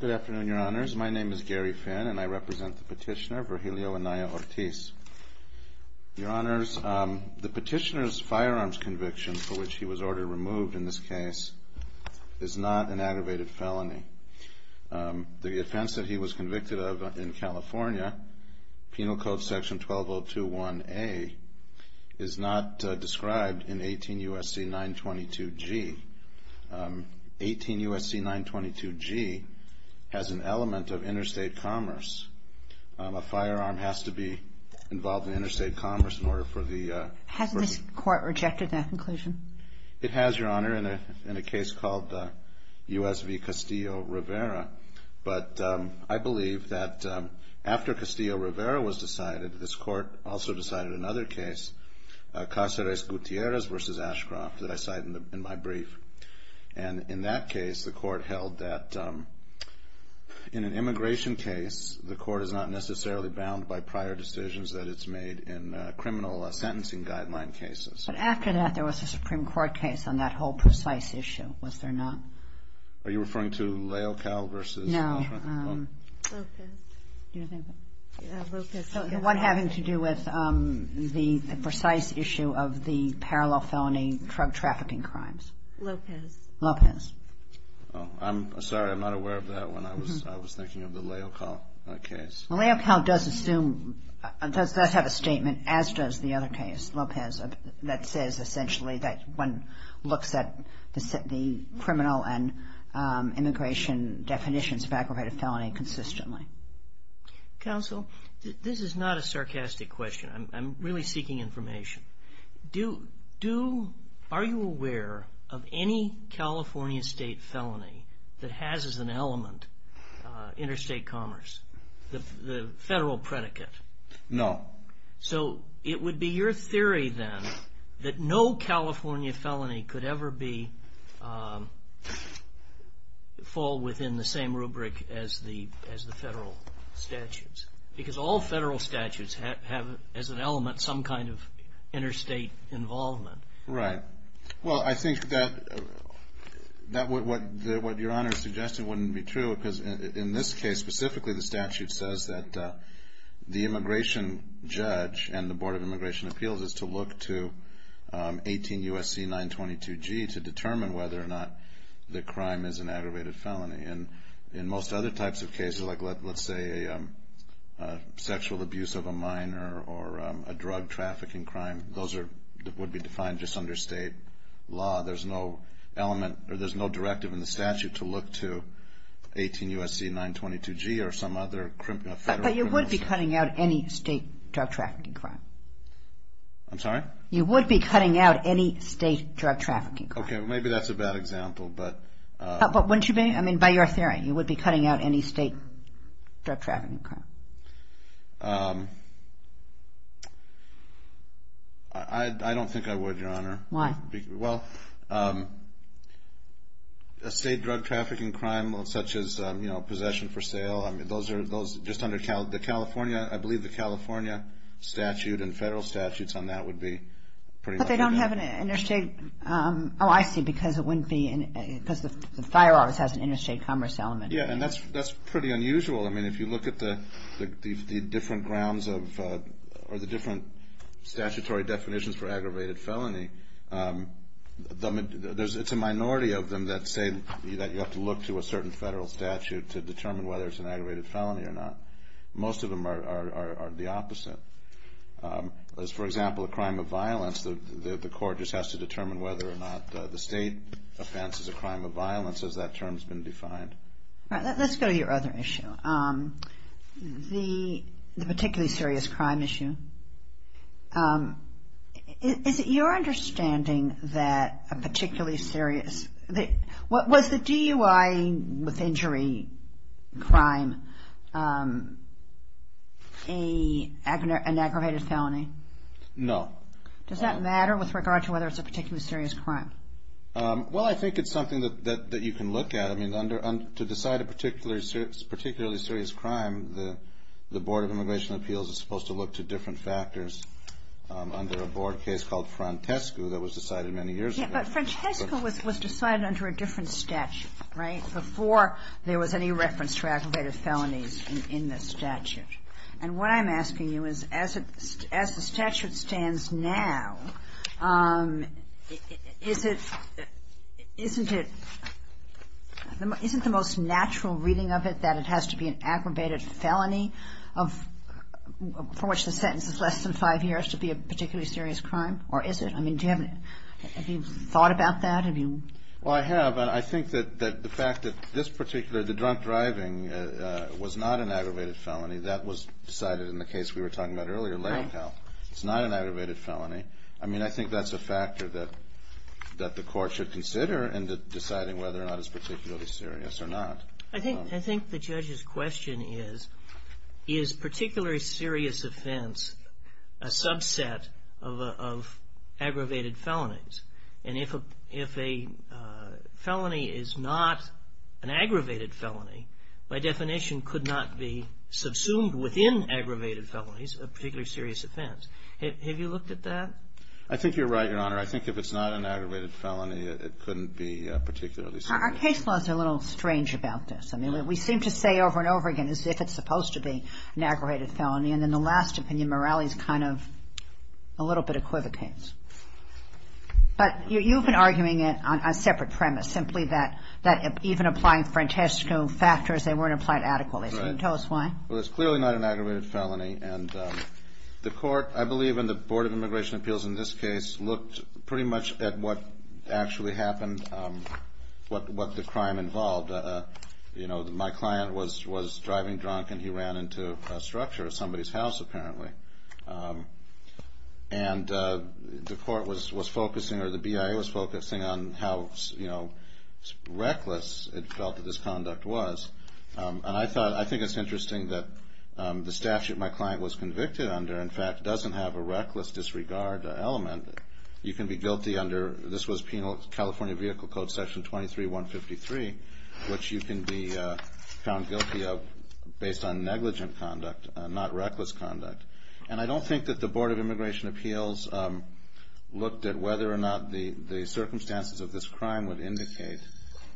Good afternoon, Your Honors. My name is Gary Finn, and I represent the petitioner Virgilio Anaya-Ortiz. Your Honors, the petitioner's firearms conviction, for which he was ordered removed in this case, is not an aggravated felony. The offense that he was convicted of in California, Penal Code Section 12021A, is not described in 18 U.S.C. 922G. 18 U.S.C. 922G has an element of interstate commerce. A firearm has to be involved in interstate commerce in order for the... Has this court rejected that conclusion? It has, Your Honor, in a case called U.S. v. Castillo Rivera. But I believe that after Castillo Rivera was decided, this court also decided another case, Cáceres Gutierrez v. Ashcroft, that I cite in my brief. And in that case, the court held that in an immigration case, the court is not necessarily bound by prior decisions that it's made in criminal sentencing guideline cases. But after that, there was a Supreme Court case on that whole precise issue, was there not? Are you referring to Leocal versus... No. Lopez. Do you think... Lopez. The one having to do with the precise issue of the parallel felony drug trafficking crimes. Lopez. Lopez. Oh, I'm sorry, I'm not aware of that one. I was thinking of the Leocal case. Leocal does assume, does have a statement, as does the other case, Lopez, that says essentially that one looks at the criminal and immigration definitions of aggravated felony consistently. Counsel, this is not a sarcastic question. I'm really seeking information. Are you aware of any California state felony that has as an element interstate commerce, the federal predicate? No. So it would be your theory then that no California felony could ever fall within the same rubric as the federal statutes. Because all federal statutes have as an element some kind of interstate involvement. Right. Well, I think that what Your Honor suggested wouldn't be true, because in this case specifically the statute says that the immigration judge and the Board of Immigration Appeals is to look to 18 U.S.C. 922G to determine whether or not the crime is an aggravated felony. And in most other types of cases, like let's say a sexual abuse of a minor or a drug trafficking crime, those would be defined just under state law. There's no element or there's no directive in the statute to look to 18 U.S.C. 922G or some other federal criminal. But you would be cutting out any state drug trafficking crime. I'm sorry? You would be cutting out any state drug trafficking crime. Okay. Well, maybe that's a bad example. But wouldn't you be? I mean, by your theory, you would be cutting out any state drug trafficking crime. I don't think I would, Your Honor. Why? Well, a state drug trafficking crime such as, you know, possession for sale, I mean, those are just under the California, I believe the California statute and federal statutes on that would be pretty much. But they don't have an interstate. Oh, I see, because it wouldn't be, because the fire office has an interstate commerce element. Yeah, and that's pretty unusual. I mean, if you look at the different grounds of, or the different statutory definitions for aggravated felony, it's a minority of them that say that you have to look to a certain federal statute to determine whether it's an aggravated felony or not. Most of them are the opposite. As, for example, a crime of violence, the court just has to determine whether or not the state offenses a crime of violence as that term's been defined. All right. Let's go to your other issue, the particularly serious crime issue. Is it your understanding that a particularly serious, was the DUI with injury crime an aggravated felony? No. Does that matter with regard to whether it's a particularly serious crime? Well, I think it's something that you can look at. I mean, to decide a particularly serious crime, the Board of Immigration Appeals is supposed to look to different factors under a board case called Frantescu that was decided many years ago. But Frantescu was decided under a different statute, right, before there was any reference to aggravated felonies in the statute. And what I'm asking you is, as the statute stands now, isn't it the most natural reading of it that it has to be an aggravated felony for which the sentence is less than five years to be a particularly serious crime, or is it? I mean, have you thought about that? Have you? Well, I have, and I think that the fact that this particular, the drunk driving was not an aggravated felony. That was decided in the case we were talking about earlier, latent health. Right. It's not an aggravated felony. I mean, I think that's a factor that the court should consider in deciding whether or not it's particularly serious or not. I think the judge's question is, is particularly serious offense a subset of aggravated felonies? And if a felony is not an aggravated felony, by definition could not be subsumed within aggravated felonies, a particularly serious offense. Have you looked at that? I think you're right, Your Honor. I think if it's not an aggravated felony, it couldn't be particularly serious. Our case laws are a little strange about this. I mean, we seem to say over and over again as if it's supposed to be an aggravated felony, and then the last opinion, Morales, kind of a little bit equivocates. But you've been arguing it on a separate premise, simply that even applying Francesco factors, they weren't applied adequately. Can you tell us why? Well, it's clearly not an aggravated felony, and the court, I believe, and the Board of Immigration Appeals in this case, looked pretty much at what actually happened, what the crime involved. You know, my client was driving drunk, and he ran into a structure at somebody's house, apparently. And the court was focusing or the BIA was focusing on how reckless it felt that this conduct was. And I thought, I think it's interesting that the statute my client was convicted under, in fact, doesn't have a reckless disregard element. You can be guilty under, this was Penal California Vehicle Code Section 23-153, which you can be found guilty of based on negligent conduct, not reckless conduct. And I don't think that the Board of Immigration Appeals looked at whether or not the circumstances of this crime would indicate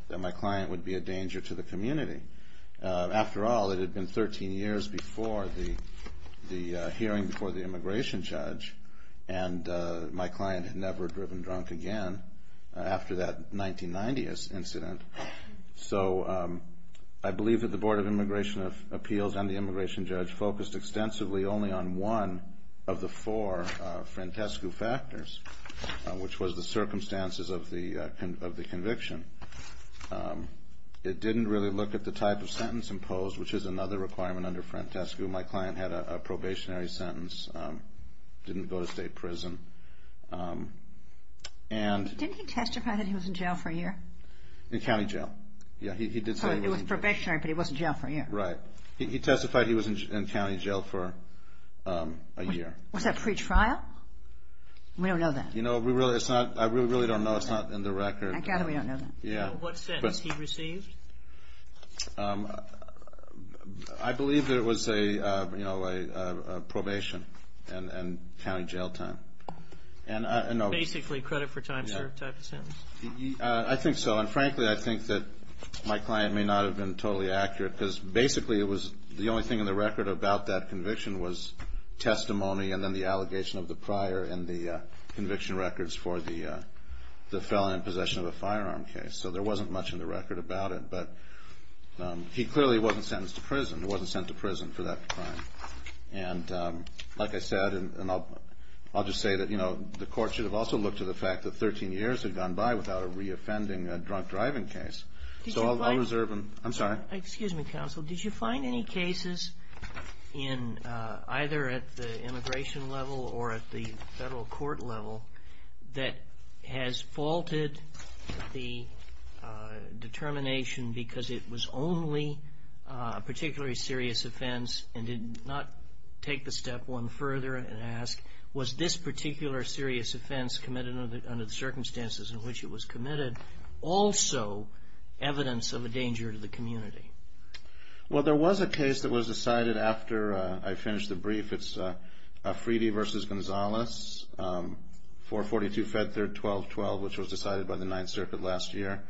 that my client would be a danger to the community. After all, it had been 13 years before the hearing before the immigration judge, and my client had never driven drunk again after that 1990 incident. So I believe that the Board of Immigration Appeals and the immigration judge focused extensively only on one of the four frantescu factors, which was the circumstances of the conviction. It didn't really look at the type of sentence imposed, which is another requirement under frantescu. My client had a probationary sentence, didn't go to state prison. Didn't he testify that he was in jail for a year? In county jail. Yeah, he did say he was in jail. So it was probationary, but he was in jail for a year. Right. He testified he was in county jail for a year. Was that pretrial? We don't know that. I really don't know. It's not in the record. We don't know that. What sentence he received? I believe that it was a probation and county jail time. Basically credit for time served type of sentence? I think so. And frankly, I think that my client may not have been totally accurate because basically it was the only thing in the record about that conviction was testimony and then the allegation of the prior and the conviction records for the felon in possession of a firearm case. So there wasn't much in the record about it. But he clearly wasn't sentenced to prison. He wasn't sent to prison for that crime. And like I said, and I'll just say that, you know, the court should have also looked to the fact that 13 years had gone by without a reoffending drunk driving case. So I'll reserve them. I'm sorry. Excuse me, counsel. Did you find any cases in either at the immigration level or at the federal court level that has faulted the determination because it was only a particularly serious offense and did not take the step one further and ask was this particular serious offense committed under the circumstances in which it was committed also evidence of a danger to the community? Well, there was a case that was decided after I finished the brief. It's Fridi v. Gonzalez, 442 Fed Third 1212, which was decided by the Ninth Circuit last year,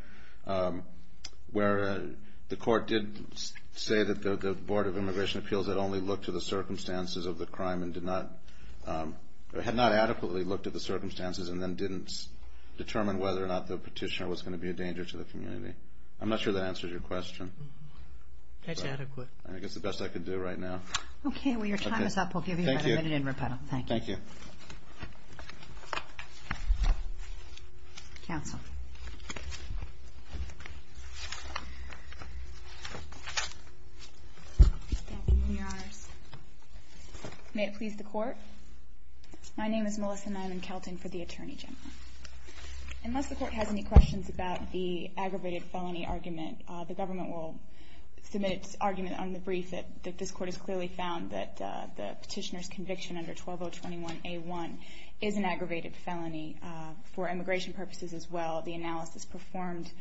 where the court did say that the Board of Immigration Appeals had only looked to the circumstances of the crime and had not adequately looked at the circumstances and then didn't determine whether or not the petitioner was going to be a danger to the community. I'm not sure that answers your question. That's adequate. I guess the best I could do right now. Okay. Well, your time is up. We'll give you about a minute in rebuttal. Thank you. Thank you. Counsel. Thank you, Your Honors. May it please the Court. My name is Melissa Nyland-Kelton for the Attorney General. Unless the Court has any questions about the aggravated felony argument, the government will submit its argument on the brief that this Court has clearly found that the petitioner's conviction under 12021A1 is an aggravated felony for immigration purposes as well. The analysis performed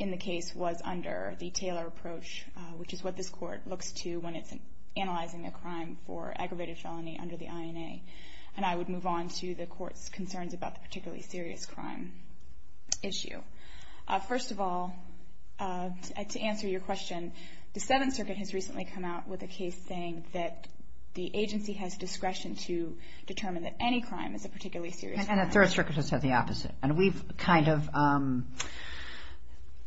in the case was under the Taylor approach, which is what this Court looks to when it's analyzing a crime for aggravated felony under the INA. And I would move on to the Court's concerns about the particularly serious crime issue. First of all, to answer your question, the Seventh Circuit has recently come out with a case saying that the agency has discretion to determine that any crime is a particularly serious crime. And the Third Circuit has said the opposite. And we've kind of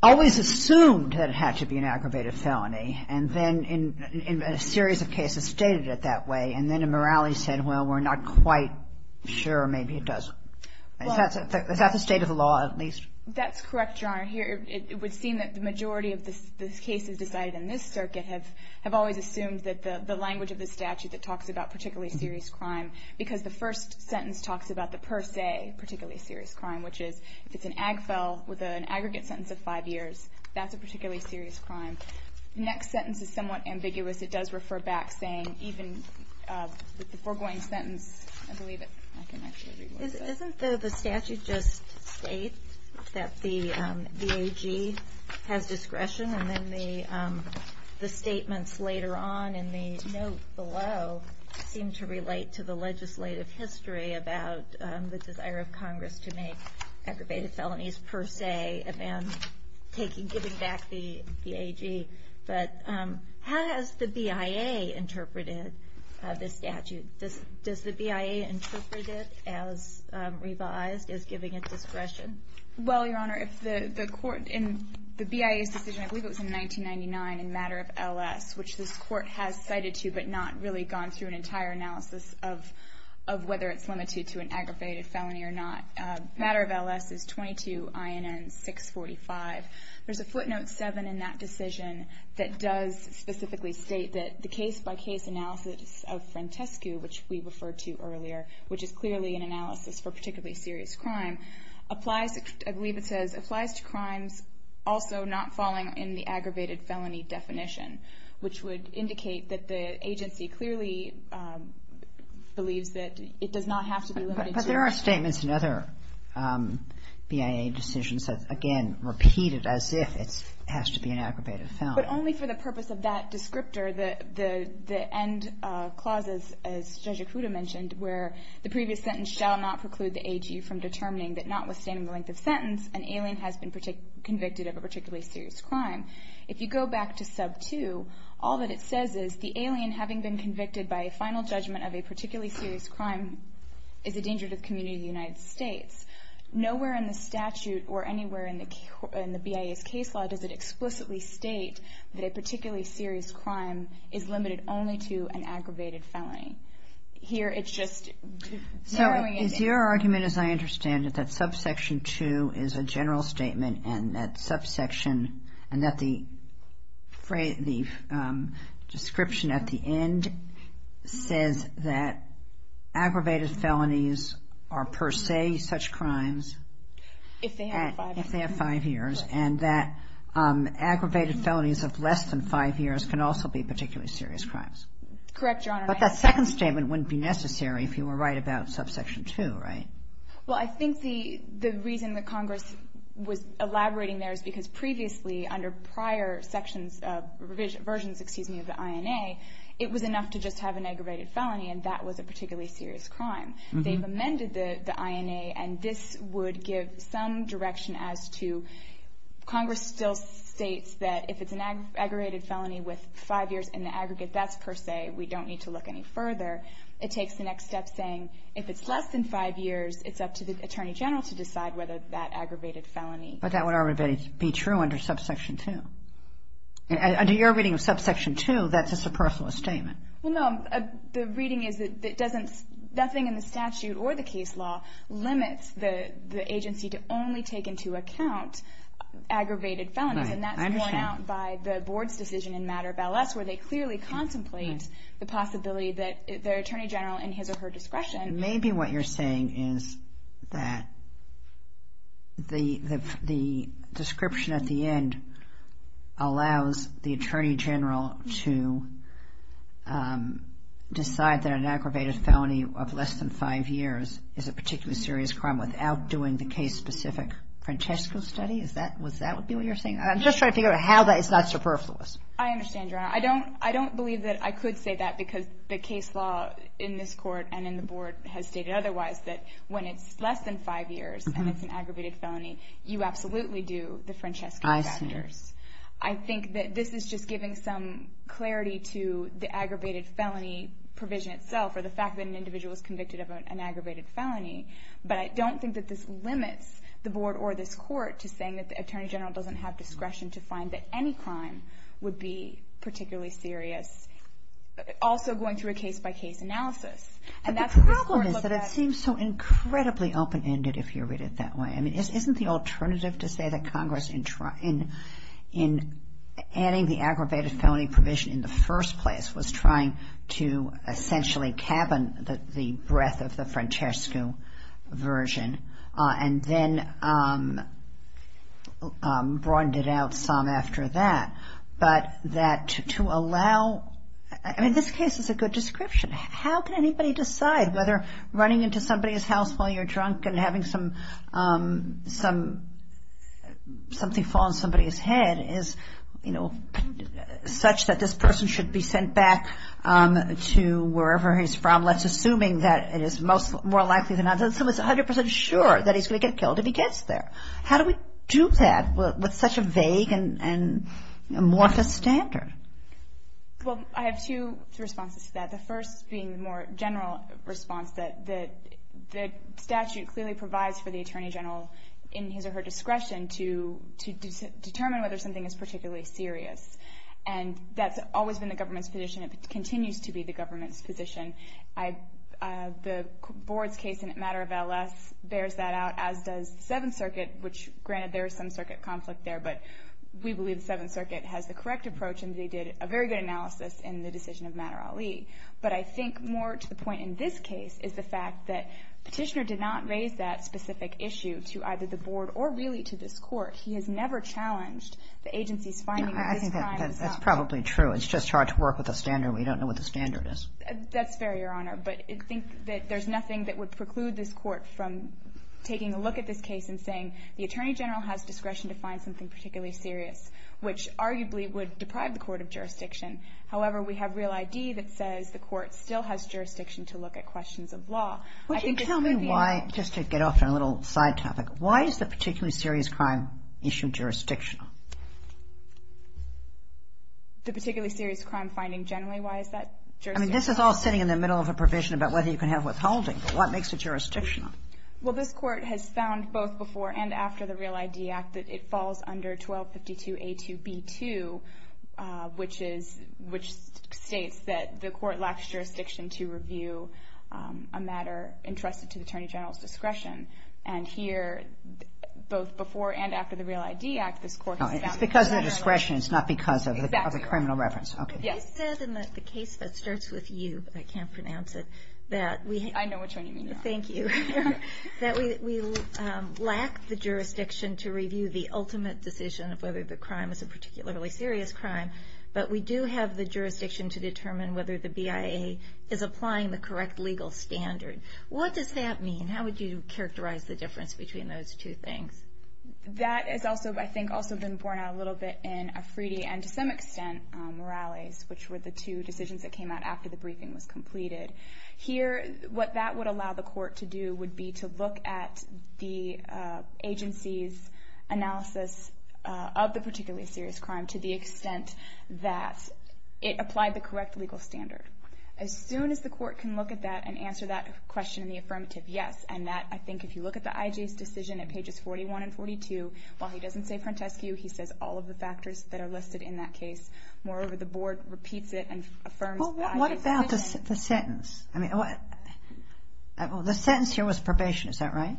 always assumed that it had to be an aggravated felony. And then in a series of cases stated it that way. And then in Morality said, well, we're not quite sure. Maybe it doesn't. Is that the state of the law at least? That's correct, Your Honor. It would seem that the majority of the cases decided in this circuit have always assumed that the language of the statute that talks about particularly serious crime, because the first sentence talks about the per se particularly serious crime, which is if it's an ag fel with an aggregate sentence of five years, that's a particularly serious crime. The next sentence is somewhat ambiguous. It does refer back saying even the foregoing sentence, I believe it. Isn't the statute just state that the VAG has discretion? And then the statements later on in the note below seem to relate to the legislative history about the desire of Congress to make aggravated felonies per se and giving back the VAG. But how has the BIA interpreted this statute? Does the BIA interpret it as revised, as giving it discretion? Well, Your Honor, if the court in the BIA's decision, I believe it was in 1999 in matter of LS, which this court has cited to but not really gone through an entire analysis of whether it's limited to an aggravated felony or not. Matter of LS is 22INN645. There's a footnote 7 in that decision that does specifically state that the case-by-case analysis of frantescu, which we referred to earlier, which is clearly an analysis for particularly serious crime, applies, I believe it says, applies to crimes also not falling in the aggravated felony definition, which would indicate that the agency clearly believes that it does not have to be limited to. But there are statements in other BIA decisions that, again, repeat it as if it has to be an aggravated felony. But only for the purpose of that descriptor, the end clauses, as Judge Ikuda mentioned, where the previous sentence shall not preclude the AG from determining that notwithstanding the length of sentence, an alien has been convicted of a particularly serious crime. If you go back to sub 2, all that it says is the alien, having been convicted by a final judgment of a particularly serious crime, is a danger to the community of the United States. Nowhere in the statute or anywhere in the BIA's case law does it explicitly state that a particularly serious crime is limited only to an aggravated felony. Here it's just narrowing it down. So is your argument, as I understand it, that subsection 2 is a general statement and that subsection, and that the description at the end says that aggravated felonies are per se such crimes? If they have five years. If they have five years. And that aggravated felonies of less than five years can also be particularly serious crimes. Correct, Your Honor. But that second statement wouldn't be necessary if you were right about subsection 2, right? Well, I think the reason that Congress was elaborating there is because previously, under prior sections, versions, excuse me, of the INA, it was enough to just have an aggravated felony, and that was a particularly serious crime. They've amended the INA, and this would give some direction as to Congress still states that if it's an aggravated felony with five years in the aggregate, that's per se. We don't need to look any further. It takes the next step saying if it's less than five years, it's up to the Attorney General to decide whether that aggravated felony. But that would already be true under subsection 2. Under your reading of subsection 2, that's a superfluous statement. Well, no. The reading is that nothing in the statute or the case law limits the agency to only take into account aggravated felonies. Okay. I understand. And that's borne out by the Board's decision in Matter of Ballast where they clearly contemplate the possibility that the Attorney General in his or her discretion. Maybe what you're saying is that the description at the end allows the Attorney General to decide that an aggravated felony of less than five years is a particularly serious crime without doing the case-specific Francesco study. Is that what you're saying? I'm just trying to figure out how that is not superfluous. I understand, Your Honor. I don't believe that I could say that because the case law in this Court and in the Board has stated otherwise that when it's less than five years and it's an aggravated felony, you absolutely do the Francesco study. I see. I think that this is just giving some clarity to the aggravated felony provision itself or the fact that an individual is convicted of an aggravated felony. But I don't think that this limits the Board or this Court to saying that the Attorney General doesn't have discretion to find that any crime would be particularly serious, also going through a case-by-case analysis. But the problem is that it seems so incredibly open-ended if you read it that way. I mean, isn't the alternative to say that Congress, in adding the aggravated felony provision in the first place, was trying to essentially cabin the breadth of the Francesco version and then broadened it out some after that, but that to allow ñ I mean, this case is a good description. How can anybody decide whether running into somebody's house while you're drunk and having something fall on somebody's head is, you know, such that this person should be sent back to wherever he's from, let's assuming that it is more likely than not, someone's 100 percent sure that he's going to get killed if he gets there? How do we do that with such a vague and amorphous standard? Well, I have two responses to that, the first being the more general response that the statute clearly provides for the Attorney General in his or her discretion to determine whether something is particularly serious. And that's always been the government's position. It continues to be the government's position. The Board's case in the matter of LS bears that out, as does the Seventh Circuit, which granted there is some circuit conflict there, but we believe the Seventh Circuit has the correct approach and they did a very good analysis in the decision of Matter-Ali. But I think more to the point in this case is the fact that Petitioner did not raise that specific issue to either the Board or really to this Court. He has never challenged the agency's finding of this crime itself. I think that's probably true. It's just hard to work with a standard. We don't know what the standard is. That's fair, Your Honor. But I think that there's nothing that would preclude this Court from taking a look at this case and saying the Attorney General has discretion to find something particularly serious, which arguably would deprive the Court of jurisdiction. However, we have real ID that says the Court still has jurisdiction to look at questions of law. Would you tell me why, just to get off on a little side topic, why is the particularly serious crime issue jurisdictional? The particularly serious crime finding generally, why is that jurisdictional? I mean, this is all sitting in the middle of a provision about whether you can have withholding. What makes it jurisdictional? Well, this Court has found both before and after the Real ID Act that it falls under 1252A2B2, which states that the Court lacks jurisdiction to review a matter entrusted to the Attorney General's discretion. And here, both before and after the Real ID Act, this Court has found that the Attorney General... It's because of the discretion. It's not because of the criminal reference. Yes. You said in the case that starts with U, but I can't pronounce it, that we... I know which one you mean, Your Honor. Thank you. That we lack the jurisdiction to review the ultimate decision of whether the crime is a particularly serious crime, but we do have the jurisdiction to determine whether the BIA is applying the correct legal standard. What does that mean? How would you characterize the difference between those two things? That has also, I think, also been borne out a little bit in Afridi and, to some extent, Morales, which were the two decisions that came out after the briefing was completed. Here, what that would allow the Court to do would be to look at the agency's analysis of the particularly serious crime to the extent that it applied the correct legal standard. As soon as the Court can look at that and answer that question in the affirmative, yes. And that, I think, if you look at the IJ's decision at pages 41 and 42, while he doesn't say frontescue, he says all of the factors that are listed in that case. Moreover, the Board repeats it and affirms the IJ's decision. Well, what about the sentence? The sentence here was probation. Is that right?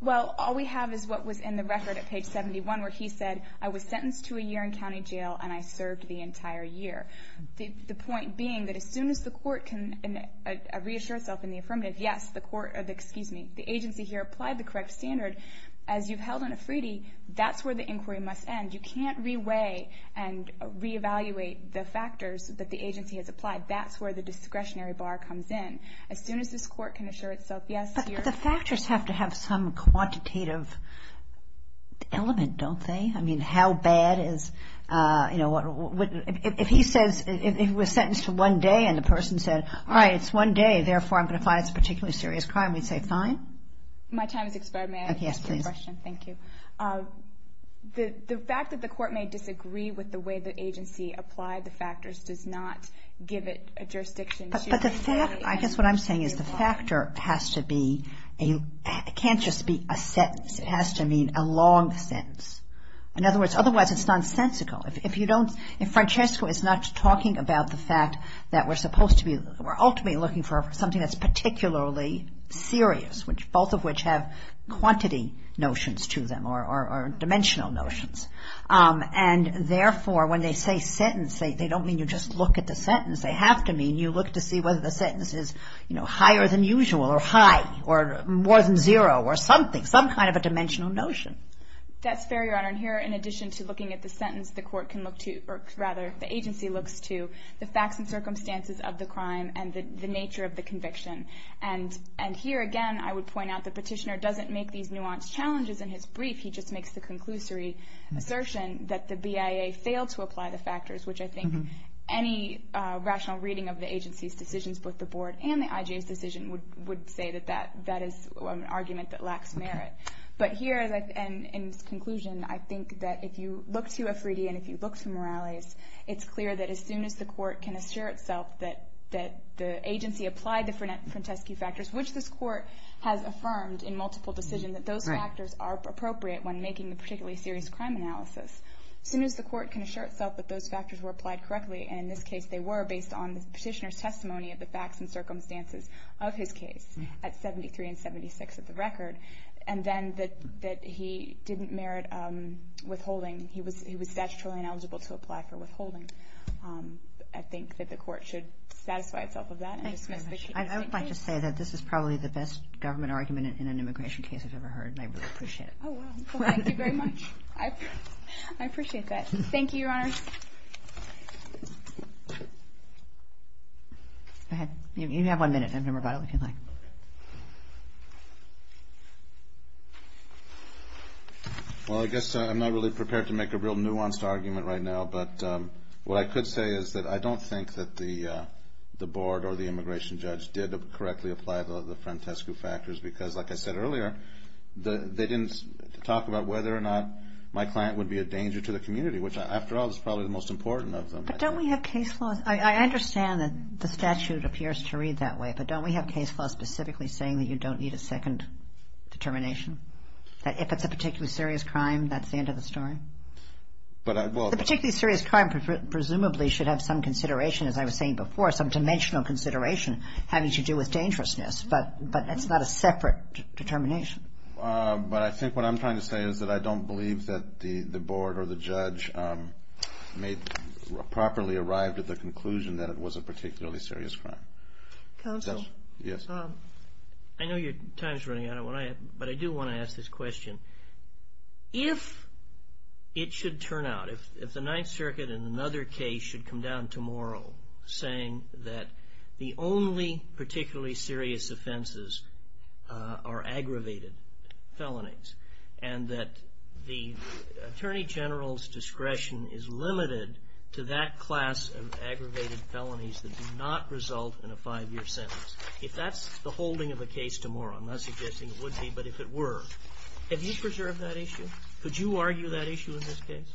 Well, all we have is what was in the record at page 71 where he said, I was sentenced to a year in county jail and I served the entire year. The point being that as soon as the Court can reassure itself in the affirmative, yes, the agency here applied the correct standard. As you've held on a freedie, that's where the inquiry must end. You can't re-weigh and re-evaluate the factors that the agency has applied. That's where the discretionary bar comes in. As soon as this Court can assure itself, yes, here. But the factors have to have some quantitative element, don't they? I mean, how bad is, you know, if he says he was sentenced to one day and the person said, all right, it's one day, therefore I'm going to find it's a particularly serious crime, we'd say fine? My time has expired. May I ask you a question? Yes, please. Thank you. The fact that the Court may disagree with the way the agency applied the factors does not give it a jurisdiction. But the fact, I guess what I'm saying is the factor has to be a, it can't just be a sentence. It has to mean a long sentence. In other words, otherwise it's nonsensical. If you don't, if Francesco is not talking about the fact that we're supposed to be, we're ultimately looking for something that's particularly serious, both of which have quantity notions to them or dimensional notions. And, therefore, when they say sentence, they don't mean you just look at the sentence. They have to mean you look to see whether the sentence is, you know, higher than usual or high or more than zero or something, some kind of a dimensional notion. That's fair, Your Honor. And here, in addition to looking at the sentence, the Court can look to, or rather the agency looks to the facts and circumstances of the crime and the nature of the conviction. And here, again, I would point out the petitioner doesn't make these nuanced challenges in his brief. He just makes the conclusory assertion that the BIA failed to apply the factors, which I think any rational reading of the agency's decisions, both the Board and the IGA's decision, would say that that is an argument that lacks merit. But here, in its conclusion, I think that if you look to a 3D and if you look to Morales, it's clear that as soon as the Court can assure itself that the agency applied the Franteschi factors, which this Court has affirmed in multiple decisions that those factors are appropriate when making a particularly serious crime analysis, as soon as the Court can assure itself that those factors were applied correctly, and in this case they were based on the petitioner's testimony of the facts and circumstances of his case at 73 and 76 of the record, and then that he didn't merit withholding. He was statutorily ineligible to apply for withholding. I think that the Court should satisfy itself of that and dismiss the case. I would like to say that this is probably the best government argument in an immigration case I've ever heard, and I really appreciate it. Oh, well, thank you very much. I appreciate that. Thank you, Your Honor. Go ahead. You have one minute, Vice President. Well, I guess I'm not really prepared to make a real nuanced argument right now, but what I could say is that I don't think that the Board or the immigration judge did correctly apply the Franteschi factors because, like I said earlier, they didn't talk about whether or not my client would be a danger to the community, which, after all, is probably the most important of them. But don't we have case laws? I understand that the statute appears to read that way, but don't we have case laws specifically saying that you don't need a second determination, that if it's a particularly serious crime, that's the end of the story? A particularly serious crime presumably should have some consideration, as I was saying before, some dimensional consideration having to do with dangerousness, but that's not a separate determination. But I think what I'm trying to say is that I don't believe that the Board or the judge properly arrived at the conclusion that it was a particularly serious crime. Counsel? Yes. I know your time is running out, but I do want to ask this question. If it should turn out, if the Ninth Circuit in another case should come down tomorrow saying that the only particularly serious offenses are aggravated felonies and that the Attorney General's discretion is limited to that class of aggravated felonies that do not result in a five-year sentence, if that's the holding of a case tomorrow, I'm not suggesting it would be, but if it were, have you preserved that issue? Could you argue that issue in this case?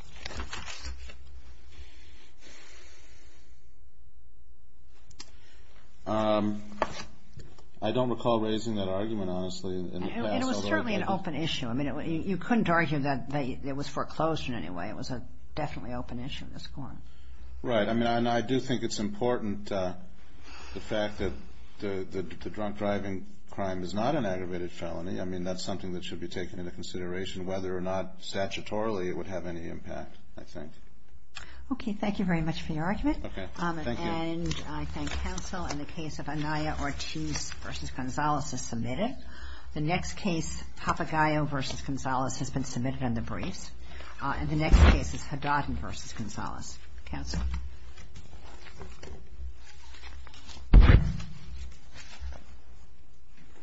I don't recall raising that argument, honestly. It was certainly an open issue. I mean, you couldn't argue that it was foreclosure in any way. It was a definitely open issue in this court. Right. I mean, and I do think it's important, the fact that the drunk driving crime is not an aggravated felony. I mean, that's something that should be taken into consideration, whether or not statutorily it would have any impact, I think. Okay. Thank you very much for your argument. Okay. Thank you. And I thank counsel. And the case of Anaya Ortiz v. Gonzales is submitted. The next case, Papagayo v. Gonzales, has been submitted on the briefs. And the next case is Haddad v. Gonzales. Counsel?